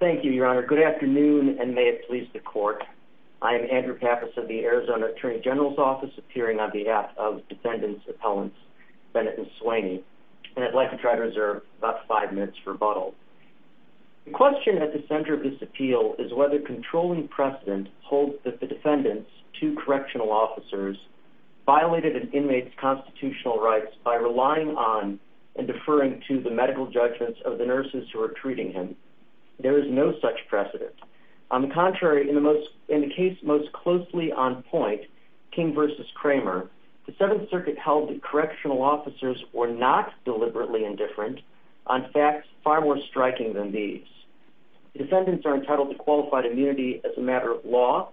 Thank you, Your Honor. Good afternoon, and may it please the court. I am Andrew Pappas of the Arizona Attorney General's Office, appearing on behalf of defendants' appellants, Bennett and Swaney, and I'd like to try to reserve about five minutes for rebuttal. The question at the center of this appeal is whether controlling precedent holds that the defendants, two correctional officers, violated an inmate's constitutional rights by relying on and deferring to the medical judgments of the nurses who were treating him. There is no such precedent. On the contrary, in the case most closely on point, King v. Kramer, the Seventh Circuit held that correctional officers were not deliberately indifferent on facts far more striking than these. The defendants are entitled to qualified immunity as a matter of law,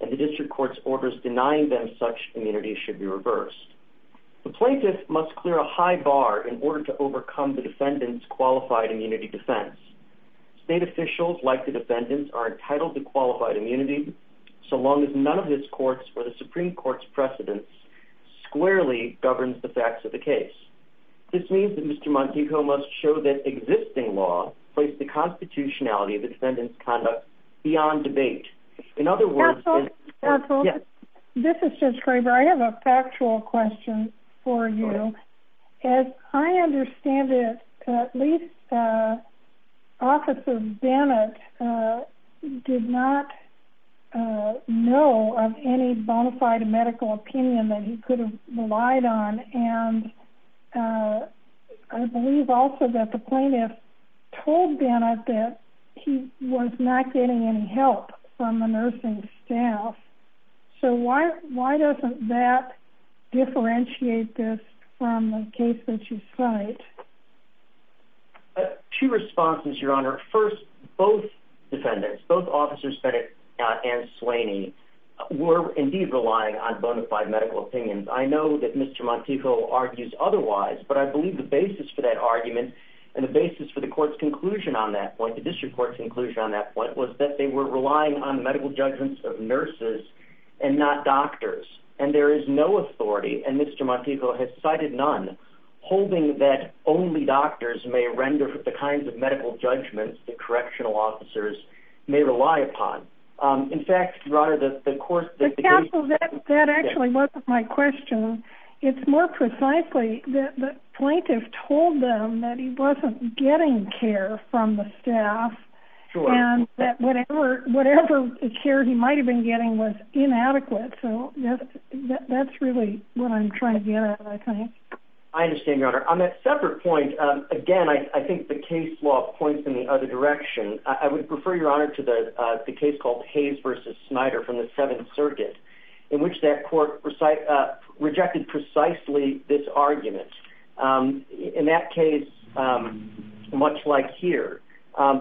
and the district court's orders denying them such immunity should be reversed. The plaintiff must clear a high bar in order to overcome the defendants' qualified immunity defense. State officials, like the defendants, are entitled to qualified immunity so long as none of his courts or the Supreme Court's precedents squarely govern the facts of the case. This means that Mr. Montego must show that existing law places the constitutionality of defendants' conduct beyond debate. Counsel, this is Judge Kramer. I have a factual question for you. As I understand it, at least Officer Bennett did not know of any bona fide medical opinion that he could have relied on, and I believe also that the plaintiff told Bennett that he was not getting any help from the nursing staff. So why doesn't that differentiate this from the case that you cite? Two responses, Your Honor. First, both defendants, both Officers Bennett and Slaney, were indeed relying on bona fide medical opinions. I know that Mr. Montego argues otherwise, but I believe the basis for that argument and the basis for the court's conclusion on that point, the district court's conclusion on that point, was that they were relying on medical judgments of nurses and not doctors. And there is no authority, and Mr. Montego has cited none, holding that only doctors may render the kinds of medical judgments that correctional officers may rely upon. Counsel, that actually wasn't my question. It's more precisely that the plaintiff told them that he wasn't getting care from the staff, and that whatever care he might have been getting was inadequate. So that's really what I'm trying to get at, I think. I understand, Your Honor. On that separate point, again, I think the case law points in the other direction. I would refer, Your Honor, to the case called Hayes v. Snyder from the Seventh Circuit, in which that court rejected precisely this argument. In that case, much like here,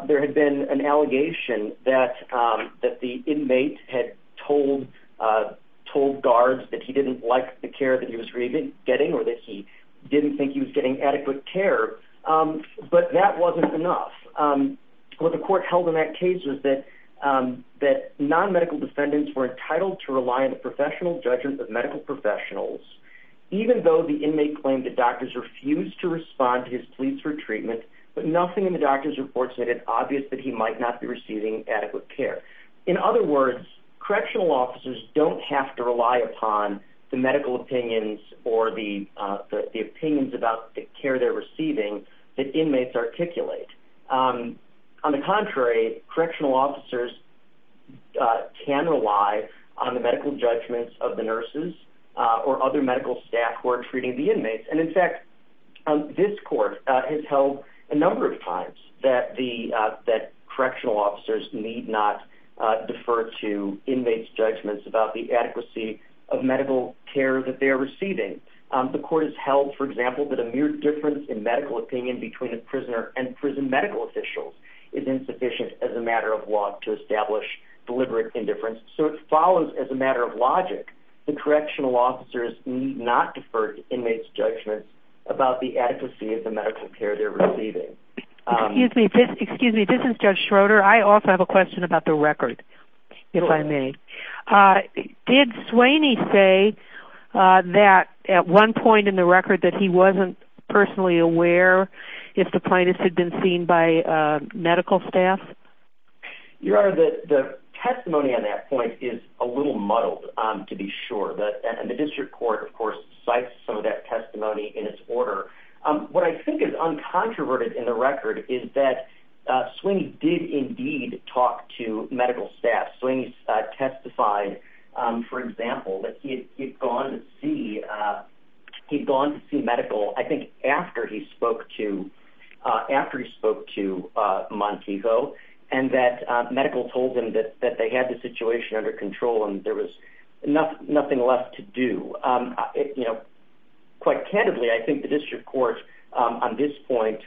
there had been an allegation that the inmate had told guards that he didn't like the care that he was getting or that he didn't think he was getting adequate care, but that wasn't enough. What the court held in that case was that non-medical defendants were entitled to rely on the professional judgment of medical professionals, even though the inmate claimed that doctors refused to respond to his pleas for treatment, but nothing in the doctor's report said it's obvious that he might not be receiving adequate care. In other words, correctional officers don't have to rely upon the medical opinions or the opinions about the care they're receiving that inmates articulate. On the contrary, correctional officers can rely on the medical judgments of the nurses or other medical staff who are treating the inmates. In fact, this court has held a number of times that correctional officers need not defer to inmates' judgments about the adequacy of medical care that they're receiving. The court has held, for example, that a mere difference in medical opinion between a prisoner and prison medical officials is insufficient as a matter of law to establish deliberate indifference. So it follows as a matter of logic that correctional officers need not defer to inmates' judgments about the adequacy of the medical care they're receiving. Excuse me, this is Judge Schroeder. I also have a question about the record, if I may. Did Sweeney say that at one point in the record that he wasn't personally aware if the plaintiff had been seen by medical staff? Your Honor, the testimony on that point is a little muddled, to be sure. The district court, of course, cites some of that testimony in its order. What I think is uncontroverted in the record is that Sweeney did indeed talk to medical staff. Sweeney testified, for example, that he had gone to see medical, I think, after he spoke to Montego, and that medical told him that they had the situation under control and there was nothing left to do. Quite candidly, I think the district court, on this point,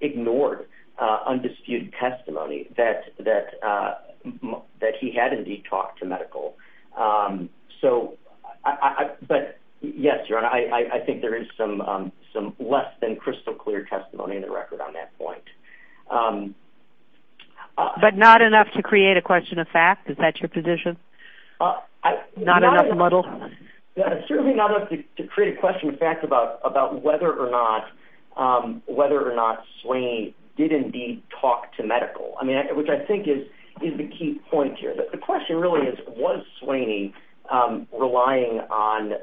ignored undisputed testimony that he had indeed talked to medical. But yes, Your Honor, I think there is some less than crystal clear testimony in the record on that point. But not enough to create a question of fact? Is that your position? Not enough muddle? Certainly not enough to create a question of fact about whether or not Sweeney did indeed talk to medical, which I think is the key point here. The question really is, was Sweeney relying on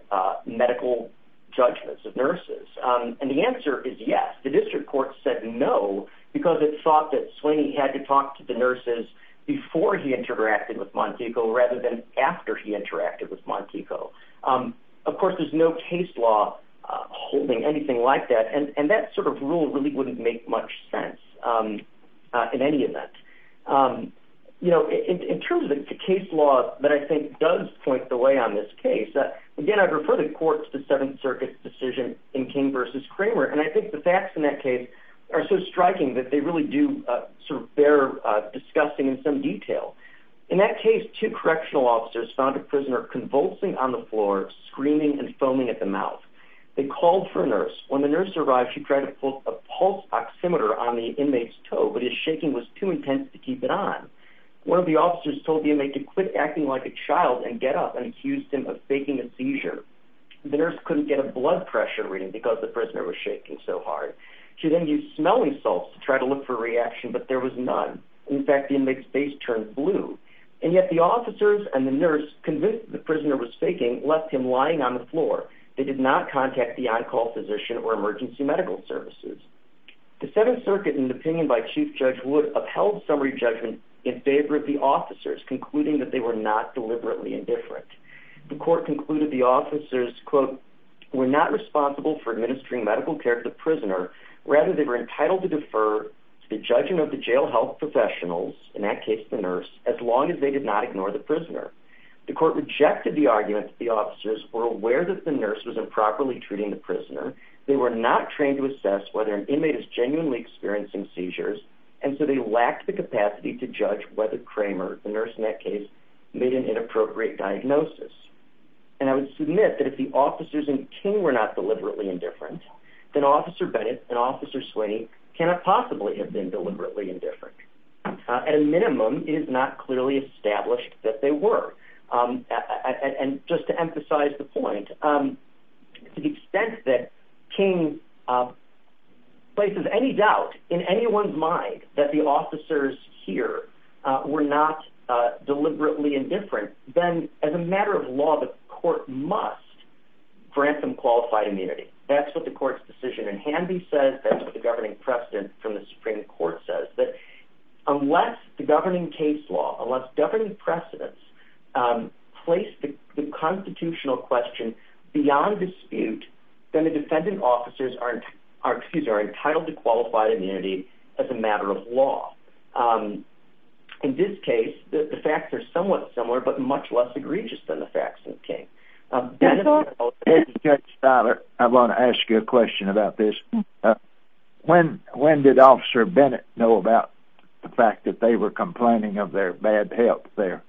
medical judgments of nurses? And the answer is yes. The district court said no because it thought that Sweeney had to talk to the nurses before he interacted with Montego rather than after he interacted with Montego. Of course, there's no case law holding anything like that, and that sort of rule really wouldn't make much sense in any event. In terms of the case law that I think does point the way on this case, again, I refer the court to the Seventh Circuit's decision in King v. Kramer, and I think the facts in that case are so striking that they really do bear discussing in some detail. In that case, two correctional officers found a prisoner convulsing on the floor, screaming and foaming at the mouth. They called for a nurse. When the nurse arrived, she tried to pull a pulse oximeter on the inmate's toe, but his shaking was too intense to keep it on. One of the officers told the inmate to quit acting like a child and get up and accused him of faking a seizure. The nurse couldn't get a blood pressure reading because the prisoner was shaking so hard. She then used smelling salts to try to look for a reaction, but there was none. In fact, the inmate's face turned blue. And yet the officers and the nurse, convinced that the prisoner was faking, left him lying on the floor. They did not contact the on-call physician or emergency medical services. The Seventh Circuit, in the opinion by Chief Judge Wood, upheld summary judgment in favor of the officers, concluding that they were not deliberately indifferent. The court concluded the officers, quote, were not responsible for administering medical care to the prisoner. Rather, they were entitled to defer to the judging of the jail health professionals, in that case the nurse, as long as they did not ignore the prisoner. The court rejected the argument that the officers were aware that the nurse was improperly treating the prisoner. They were not trained to assess whether an inmate is genuinely experiencing seizures, and so they lacked the capacity to judge whether Kramer, the nurse in that case, made an inappropriate diagnosis. And I would submit that if the officers and King were not deliberately indifferent, then Officer Bennett and Officer Sweeney cannot possibly have been deliberately indifferent. At a minimum, it is not clearly established that they were. And just to emphasize the point, to the extent that King places any doubt in anyone's mind that the officers here were not deliberately indifferent, then as a matter of law, the court must grant them qualified immunity. That's what the court's decision in Hanby says. That's what the governing precedent from the Supreme Court says. But unless the governing case law, unless governing precedents place the constitutional question beyond dispute, then the defendant officers are entitled to qualified immunity as a matter of law. In this case, the facts are somewhat similar, but much less egregious than the facts in King. Judge Steiler, I want to ask you a question about this. When did Officer Bennett know about the fact that they were complaining of their bad health there?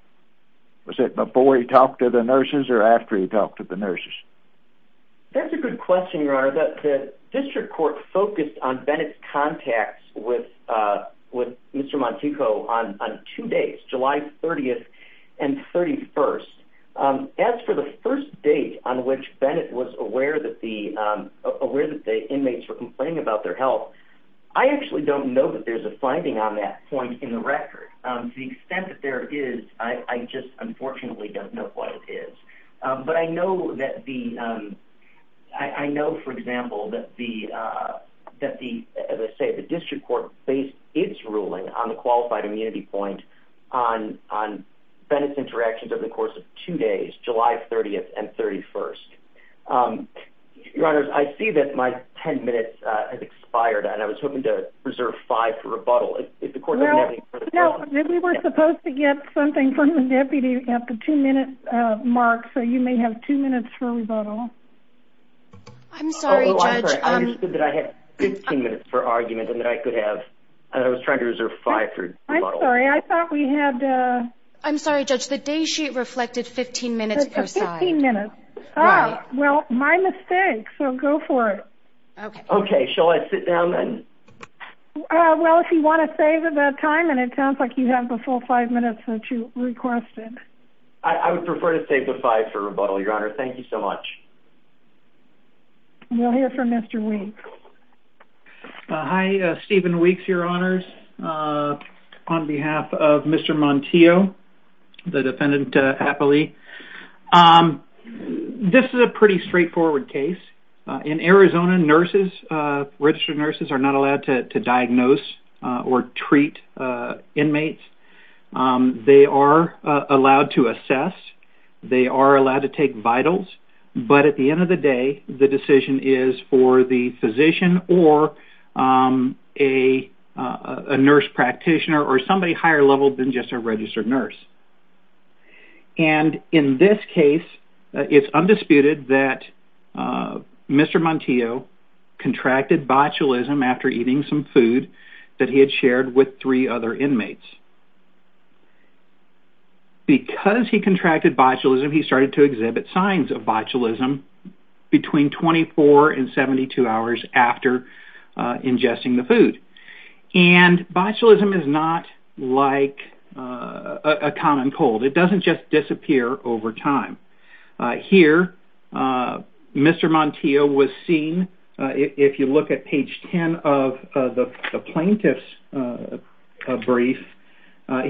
Was it before he talked to the nurses or after he talked to the nurses? That's a good question, Your Honor. The district court focused on Bennett's contacts with Mr. Monteco on two days, July 30th and 31st. As for the first date on which Bennett was aware that the inmates were complaining about their health, I actually don't know that there's a finding on that point in the record. To the extent that there is, I just unfortunately don't know what it is. But I know, for example, that the district court based its ruling on the qualified immunity point on Bennett's interactions over the course of two days, July 30th and 31st. Your Honor, I see that my ten minutes has expired, and I was hoping to reserve five for rebuttal. No, we were supposed to get something from the deputy at the two-minute mark, so you may have two minutes for rebuttal. I'm sorry, Judge. I understood that I had 15 minutes for argument and that I was trying to reserve five for rebuttal. I'm sorry. I thought we had... I'm sorry, Judge. The day sheet reflected 15 minutes per side. 15 minutes. Right. Well, my mistake, so go for it. Okay. Okay, shall I sit down then? Well, if you want to save that time, and it sounds like you have the full five minutes that you requested. I would prefer to save the five for rebuttal, Your Honor. Thank you so much. We'll hear from Mr. Weeks. Hi, Stephen Weeks, Your Honors. On behalf of Mr. Montillo, the defendant happily, this is a pretty straightforward case. In Arizona, registered nurses are not allowed to diagnose or treat inmates. They are allowed to assess. They are allowed to take vitals, but at the end of the day, the decision is for the physician or a nurse practitioner or somebody higher level than just a registered nurse. And in this case, it's undisputed that Mr. Montillo contracted botulism after eating some food that he had shared with three other inmates. Because he contracted botulism, he started to exhibit signs of botulism between 24 and 72 hours after ingesting the food. And botulism is not like a common cold. It doesn't just disappear over time. Here, Mr. Montillo was seen, if you look at page 10 of the plaintiff's brief,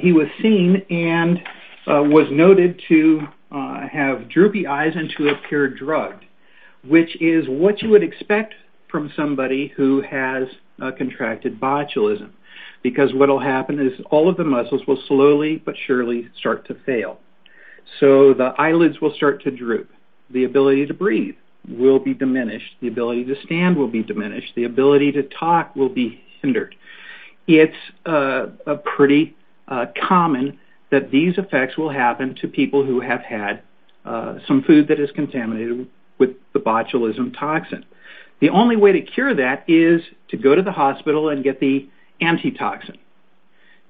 he was seen and was noted to have droopy eyes and to appear drugged, which is what you would expect from somebody who has contracted botulism. Because what will happen is all of the muscles will slowly but surely start to fail. So the eyelids will start to droop. The ability to breathe will be diminished. The ability to stand will be diminished. The ability to talk will be hindered. It's pretty common that these effects will happen to people who have had some food that is contaminated with the botulism toxin. The only way to cure that is to go to the hospital and get the antitoxin.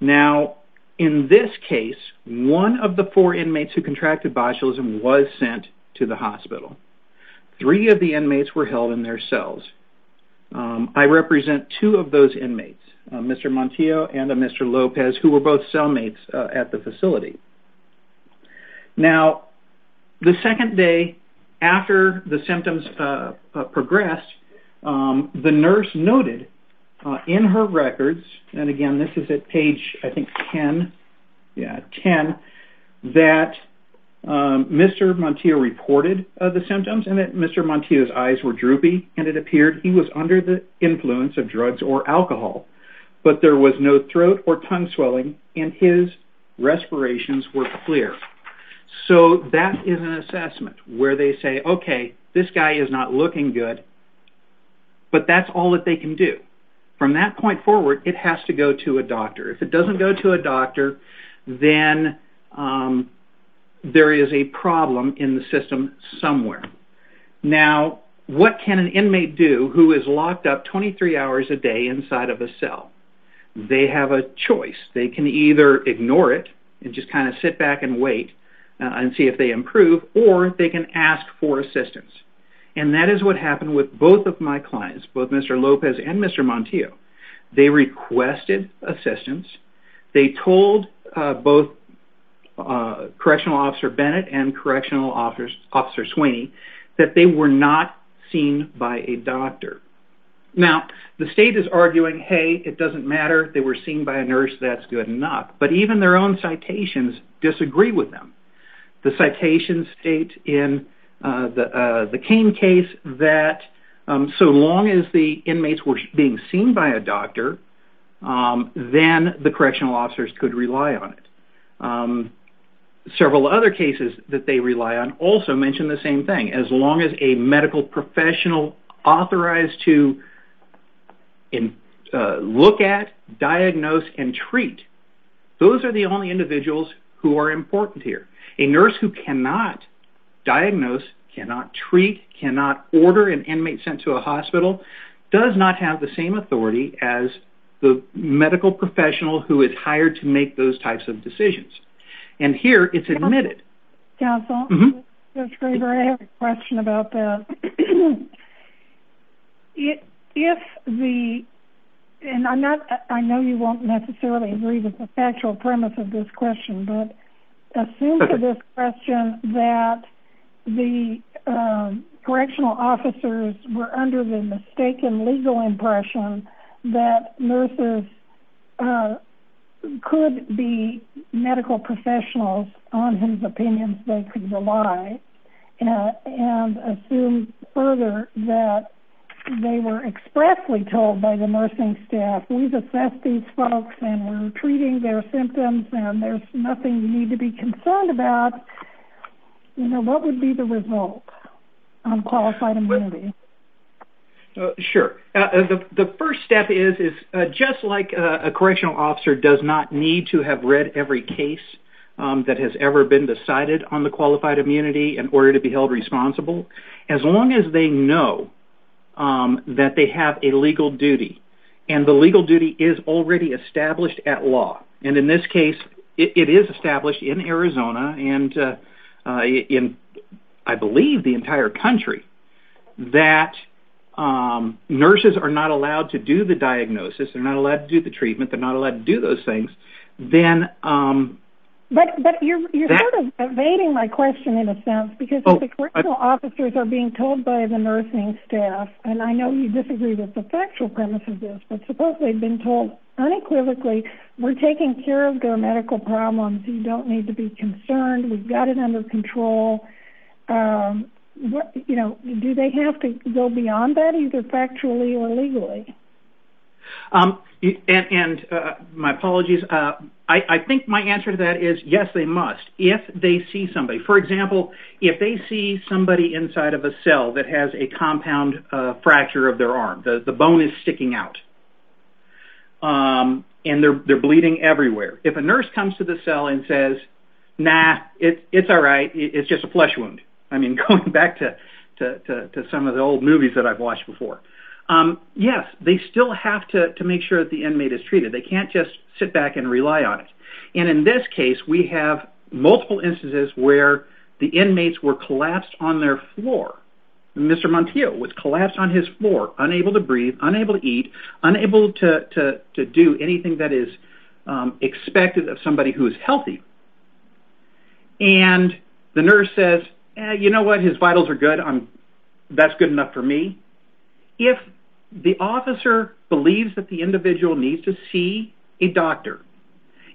Now, in this case, one of the four inmates who contracted botulism was sent to the hospital. Three of the inmates were held in their cells. I represent two of those inmates, Mr. Montillo and Mr. Lopez, who were both cellmates at the facility. Now, the second day after the symptoms progressed, the nurse noted in her records, and, again, this is at page, I think, 10, yeah, 10, that Mr. Montillo reported the symptoms and that Mr. Montillo's eyes were droopy and it appeared he was under the influence of drugs or alcohol, but there was no throat or tongue swelling and his respirations were clear. So that is an assessment where they say, okay, this guy is not looking good, but that's all that they can do. From that point forward, it has to go to a doctor. If it doesn't go to a doctor, then there is a problem in the system somewhere. Now, what can an inmate do who is locked up 23 hours a day inside of a cell? They have a choice. They can either ignore it and just kind of sit back and wait and see if they improve, or they can ask for assistance. And that is what happened with both of my clients, both Mr. Lopez and Mr. Montillo. They requested assistance. They told both Correctional Officer Bennett and Correctional Officer Sweeney that they were not seen by a doctor. Now, the state is arguing, hey, it doesn't matter, they were seen by a nurse, that's good enough. But even their own citations disagree with them. The citations state in the Cain case that so long as the inmates were being seen by a doctor, then the Correctional Officers could rely on it. Several other cases that they rely on also mention the same thing. As long as a medical professional authorized to look at, diagnose, and treat, those are the only individuals who are important here. A nurse who cannot diagnose, cannot treat, cannot order an inmate sent to a hospital does not have the same authority as the medical professional who is hired to make those types of decisions. And here, it's admitted. Counsel, I have a question about that. I know you won't necessarily agree with the factual premise of this question, but assume for this question that the Correctional Officers were under the mistaken legal impression that nurses could be medical professionals on whose opinions they could rely and assume further that they were expressly told by the nursing staff, we've assessed these folks and we're treating their symptoms and there's nothing you need to be concerned about. What would be the result on qualified immunity? Sure. The first step is just like a Correctional Officer does not need to have read every case that has ever been decided on the qualified immunity in order to be held responsible, as long as they know that they have a legal duty and the legal duty is already established at law. And in this case, it is established in Arizona and I believe the entire country that nurses are not allowed to do the diagnosis, they're not allowed to do the treatment, they're not allowed to do those things, then... But you're sort of evading my question in a sense because the Correctional Officers are being told by the nursing staff, and I know you disagree with the factual premise of this, but suppose they've been told unequivocally we're taking care of their medical problems, you don't need to be concerned, we've got it under control. You know, do they have to go beyond that, either factually or legally? And my apologies, I think my answer to that is, yes, they must, if they see somebody. For example, if they see somebody inside of a cell that has a compound fracture of their arm, the bone is sticking out, and they're bleeding everywhere. If a nurse comes to the cell and says, nah, it's all right, it's just a flesh wound. I mean, going back to some of the old movies that I've watched before. Yes, they still have to make sure that the inmate is treated. They can't just sit back and rely on it. And in this case, we have multiple instances where the inmates were collapsed on their floor. Mr. Montillo was collapsed on his floor, unable to breathe, unable to eat, unable to do anything that is expected of somebody who is healthy. And the nurse says, you know what, his vitals are good, that's good enough for me. If the officer believes that the individual needs to see a doctor,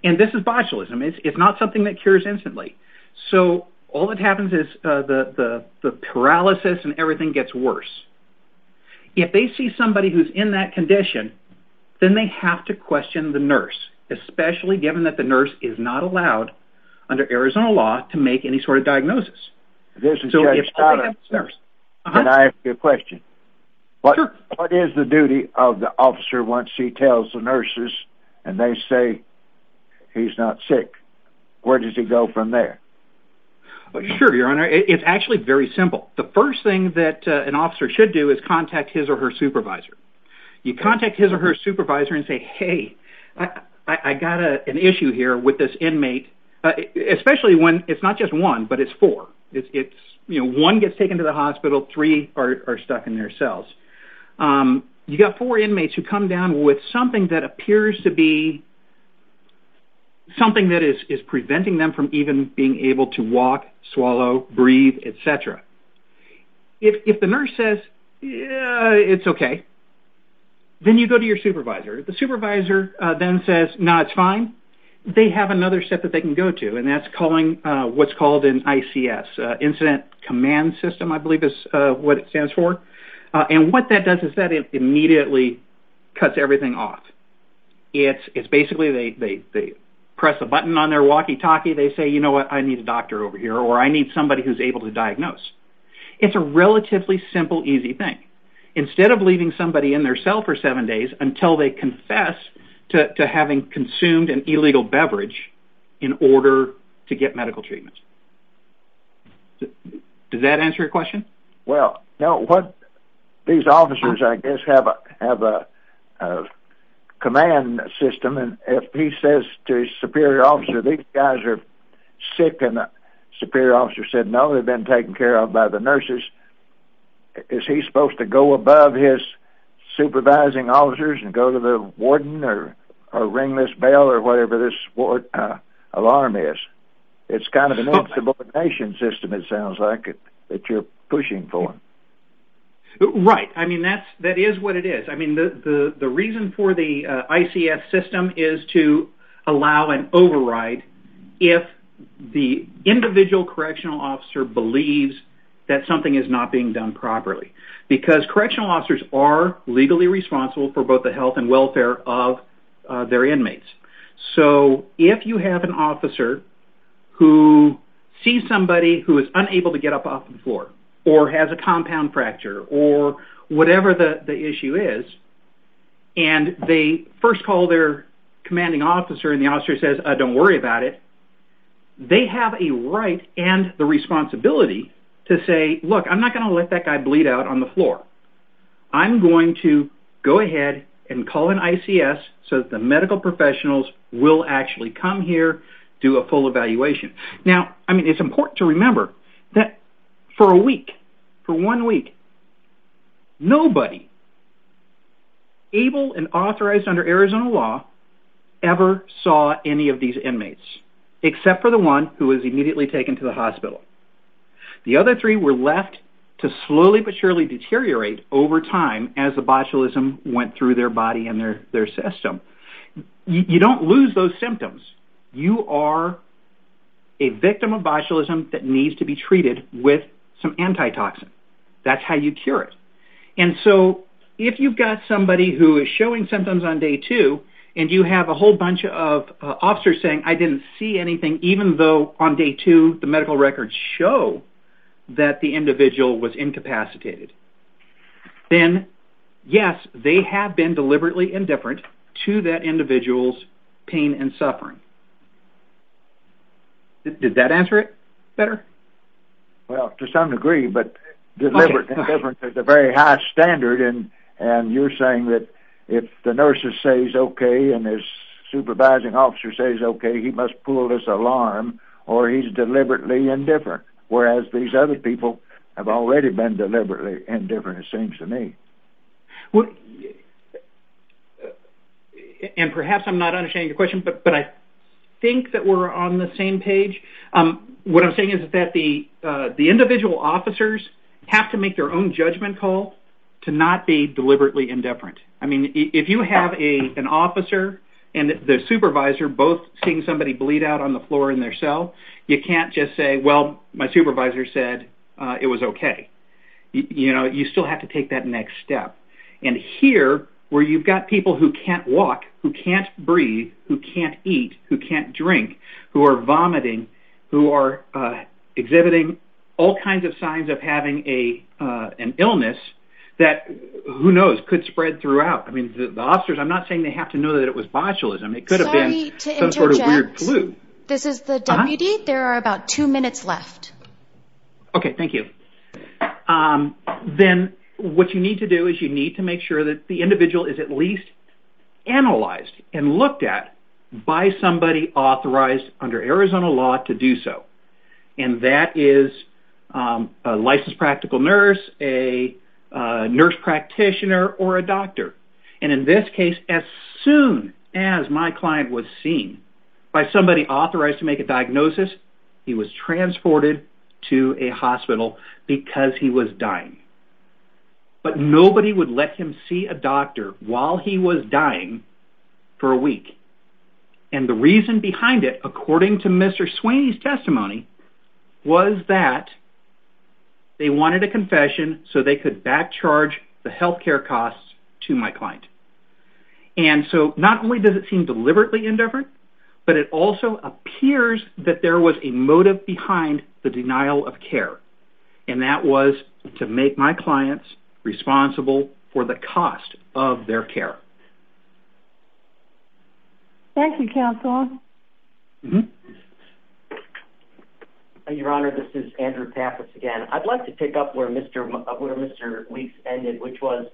and this is botulism, it's not something that cures instantly. So all that happens is the paralysis and everything gets worse. then they have to question the nurse, especially given that the nurse is not allowed under Arizona law to make any sort of diagnosis. Can I ask you a question? Sure. What is the duty of the officer once he tells the nurses and they say he's not sick? Where does he go from there? Sure, Your Honor. It's actually very simple. The first thing that an officer should do is contact his or her supervisor. You contact his or her supervisor and say, hey, I got an issue here with this inmate, especially when it's not just one, but it's four. One gets taken to the hospital, three are stuck in their cells. You got four inmates who come down with something that appears to be something that is preventing them from even being able to walk, swallow, breathe, et cetera. If the nurse says, it's okay, then you go to your supervisor. The supervisor then says, no, it's fine. They have another step that they can go to, and that's what's called an ICS, Incident Command System, I believe is what it stands for. And what that does is that it immediately cuts everything off. It's basically they press a button on their walkie-talkie, they say, you know what, I need a doctor over here, or I need somebody who's able to diagnose. It's a relatively simple, easy thing. Instead of leaving somebody in their cell for seven days until they confess to having consumed an illegal beverage in order to get medical treatments. Does that answer your question? Well, no. These officers, I guess, have a command system, and if he says to his superior officer, these guys are sick, and the superior officer said no, they've been taken care of by the nurses, is he supposed to go above his supervising officers and go to the warden or ring this bell or whatever this alarm is? It's kind of an insubordination system, it sounds like, that you're pushing for. Right. I mean, that is what it is. I mean, the reason for the ICS system is to allow an override if the individual correctional officer believes that something is not being done properly. Because correctional officers are legally responsible for both the health and welfare of their inmates. So if you have an officer who sees somebody who is unable to get up off the floor or has a compound fracture or whatever the issue is, and they first call their commanding officer and the officer says, don't worry about it, they have a right and the responsibility to say, look, I'm not going to let that guy bleed out on the floor. I'm going to go ahead and call an ICS so that the medical professionals will actually come here and do a full evaluation. Now, I mean, it's important to remember that for a week, for one week, nobody able and authorized under Arizona law ever saw any of these inmates, except for the one who was immediately taken to the hospital. The other three were left to slowly but surely deteriorate over time as the botulism went through their body and their system. You don't lose those symptoms. You are a victim of botulism that needs to be treated with some antitoxin. That's how you cure it. And so if you've got somebody who is showing symptoms on day two and you have a whole bunch of officers saying, I didn't see anything, even though on day two the medical records show that the individual was incapacitated, then yes, they have been deliberately indifferent to that individual's pain and suffering. Did that answer it better? Well, to some degree, but deliberate indifference is a very high standard, and you're saying that if the nurses say he's okay and his supervising officer says okay, he must pull this alarm or he's deliberately indifferent, whereas these other people have already been deliberately indifferent, it seems to me. And perhaps I'm not understanding your question, but I think that we're on the same page. What I'm saying is that the individual officers have to make their own judgment call to not be deliberately indifferent. I mean, if you have an officer and the supervisor both seeing somebody bleed out on the floor in their cell, you can't just say, well, my supervisor said it was okay. You still have to take that next step. And here, where you've got people who can't walk, who can't breathe, who can't eat, who can't drink, who are vomiting, who are exhibiting all kinds of signs of having an illness that, who knows, could spread throughout. I mean, the officers, I'm not saying they have to know that it was botulism. It could have been some sort of weird flu. Sorry to interject. This is the deputy. There are about two minutes left. Okay, thank you. Then what you need to do is you need to make sure that the individual is at least analyzed and looked at by somebody authorized under Arizona law to do so. And that is a licensed practical nurse, a nurse practitioner, or a doctor. And in this case, as soon as my client was seen by somebody authorized to make a diagnosis, he was transported to a hospital because he was dying. But nobody would let him see a doctor while he was dying for a week. And the reason behind it, according to Mr. Sweeney's testimony, was that they wanted a confession so they could backcharge the health care costs to my client. And so not only does it seem deliberately indifferent, but it also appears that there was a motive behind the denial of care, and that was to make my clients responsible for the cost of their care. Thank you, Counsel. Your Honor, this is Andrew Pappas again. I'd like to pick up where Mr. Weeks ended, which was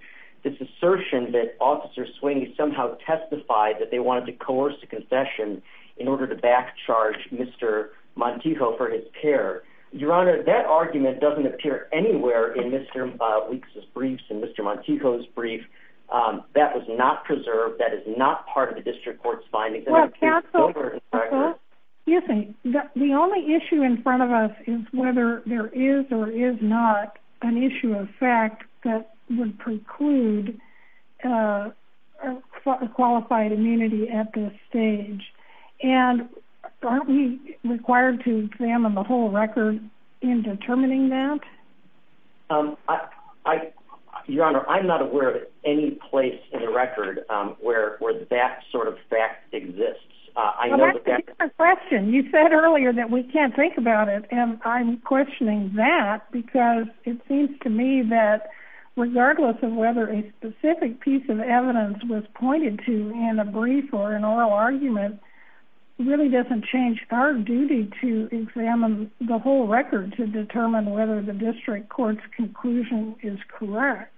this assertion that Officer Sweeney somehow testified that they wanted to coerce a confession in order to backcharge Mr. Montijo for his care. Your Honor, that argument doesn't appear anywhere in Mr. Weeks' briefs and Mr. Montijo's brief. That was not preserved. That is not part of the district court's findings. Counsel, the only issue in front of us is whether there is or is not an issue of fact that would preclude qualified immunity at this stage. And aren't we required to examine the whole record in determining that? That's a different question. You said earlier that we can't think about it, and I'm questioning that because it seems to me that regardless of whether a specific piece of evidence was pointed to in a brief or an oral argument, it really doesn't change our duty to examine the whole record to determine whether the district court's conclusion is correct.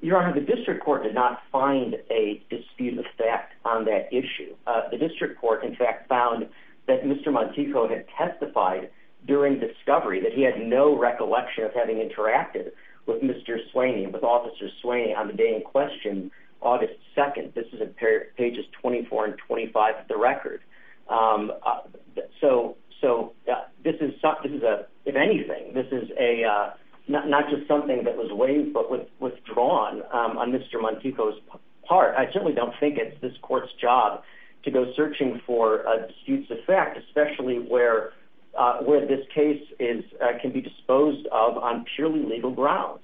Your Honor, the district court did not find a dispute of fact on that issue. The district court, in fact, found that Mr. Montijo had testified during discovery that he had no recollection of having interacted with Mr. Sweeney, with Officer Sweeney, on the day in question, August 2nd. This is in pages 24 and 25 of the record. So this is, if anything, this is not just something that was waived but withdrawn on Mr. Montijo's part. I certainly don't think it's this court's job to go searching for disputes of fact, especially where this case can be disposed of on purely legal grounds.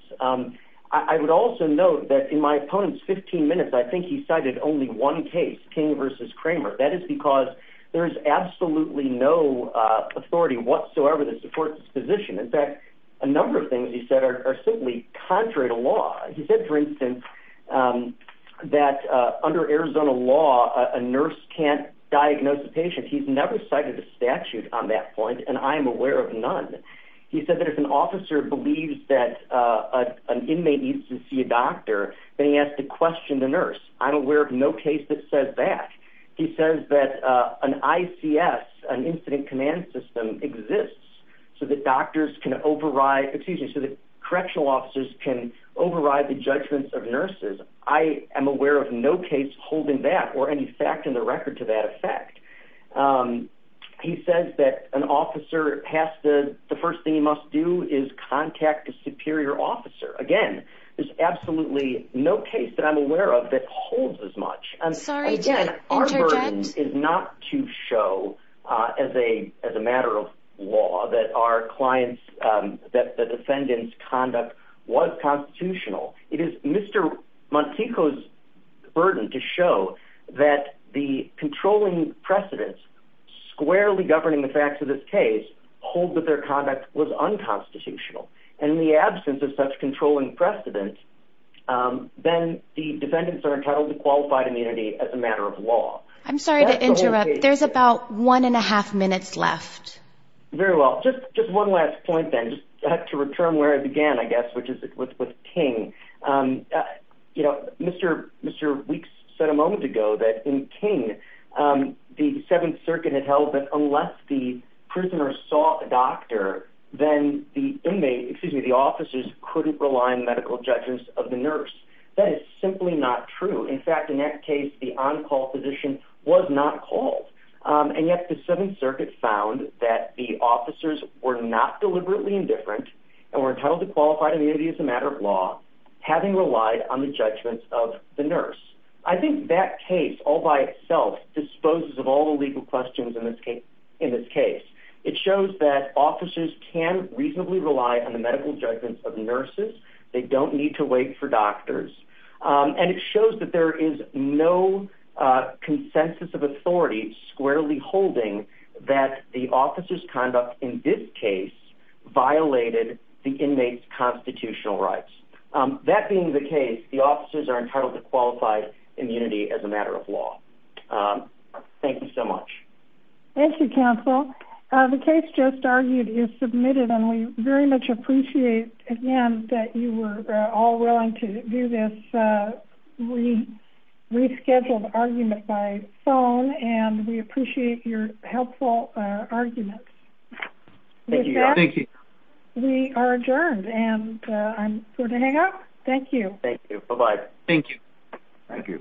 I would also note that in my opponent's 15 minutes, I think he cited only one case, King v. Kramer. That is because there is absolutely no authority whatsoever that supports this position. In fact, a number of things he said are simply contrary to law. He said, for instance, that under Arizona law, a nurse can't diagnose a patient. He's never cited a statute on that point, and I'm aware of none. He said that if an officer believes that an inmate needs to see a doctor, then he has to question the nurse. I'm aware of no case that says that. He says that an ICS, an incident command system, exists so that correctional officers can override the judgments of nurses. I am aware of no case holding that or any fact in the record to that effect. He says that an officer, the first thing he must do is contact a superior officer. Again, there's absolutely no case that I'm aware of that holds as much. Our burden is not to show, as a matter of law, that the defendant's conduct was constitutional. It is Mr. Montico's burden to show that the controlling precedents squarely governing the facts of this case hold that their conduct was unconstitutional. In the absence of such controlling precedents, then the defendants are entitled to qualified immunity as a matter of law. I'm sorry to interrupt. There's about one and a half minutes left. Very well. Just one last point, then, to return where I began, I guess, which is with King. You know, Mr. Weeks said a moment ago that in King, the Seventh Circuit had held that unless the prisoner saw a doctor, then the officers couldn't rely on the medical judgments of the nurse. That is simply not true. In fact, in that case, the on-call physician was not called, and yet the Seventh Circuit found that the officers were not deliberately indifferent and were entitled to qualified immunity as a matter of law, having relied on the judgments of the nurse. I think that case all by itself disposes of all the legal questions in this case. It shows that officers can reasonably rely on the medical judgments of nurses. They don't need to wait for doctors. And it shows that there is no consensus of authority squarely holding that the officers' conduct in this case violated the inmates' constitutional rights. That being the case, the officers are entitled to qualified immunity as a matter of law. Thank you so much. Thank you, counsel. The case just argued is submitted, and we very much appreciate, again, that you were all willing to do this rescheduled argument by phone, and we appreciate your helpful arguments. Thank you. We are adjourned, and I'm going to hang up. Thank you. Thank you. Bye-bye. Thank you. Thank you.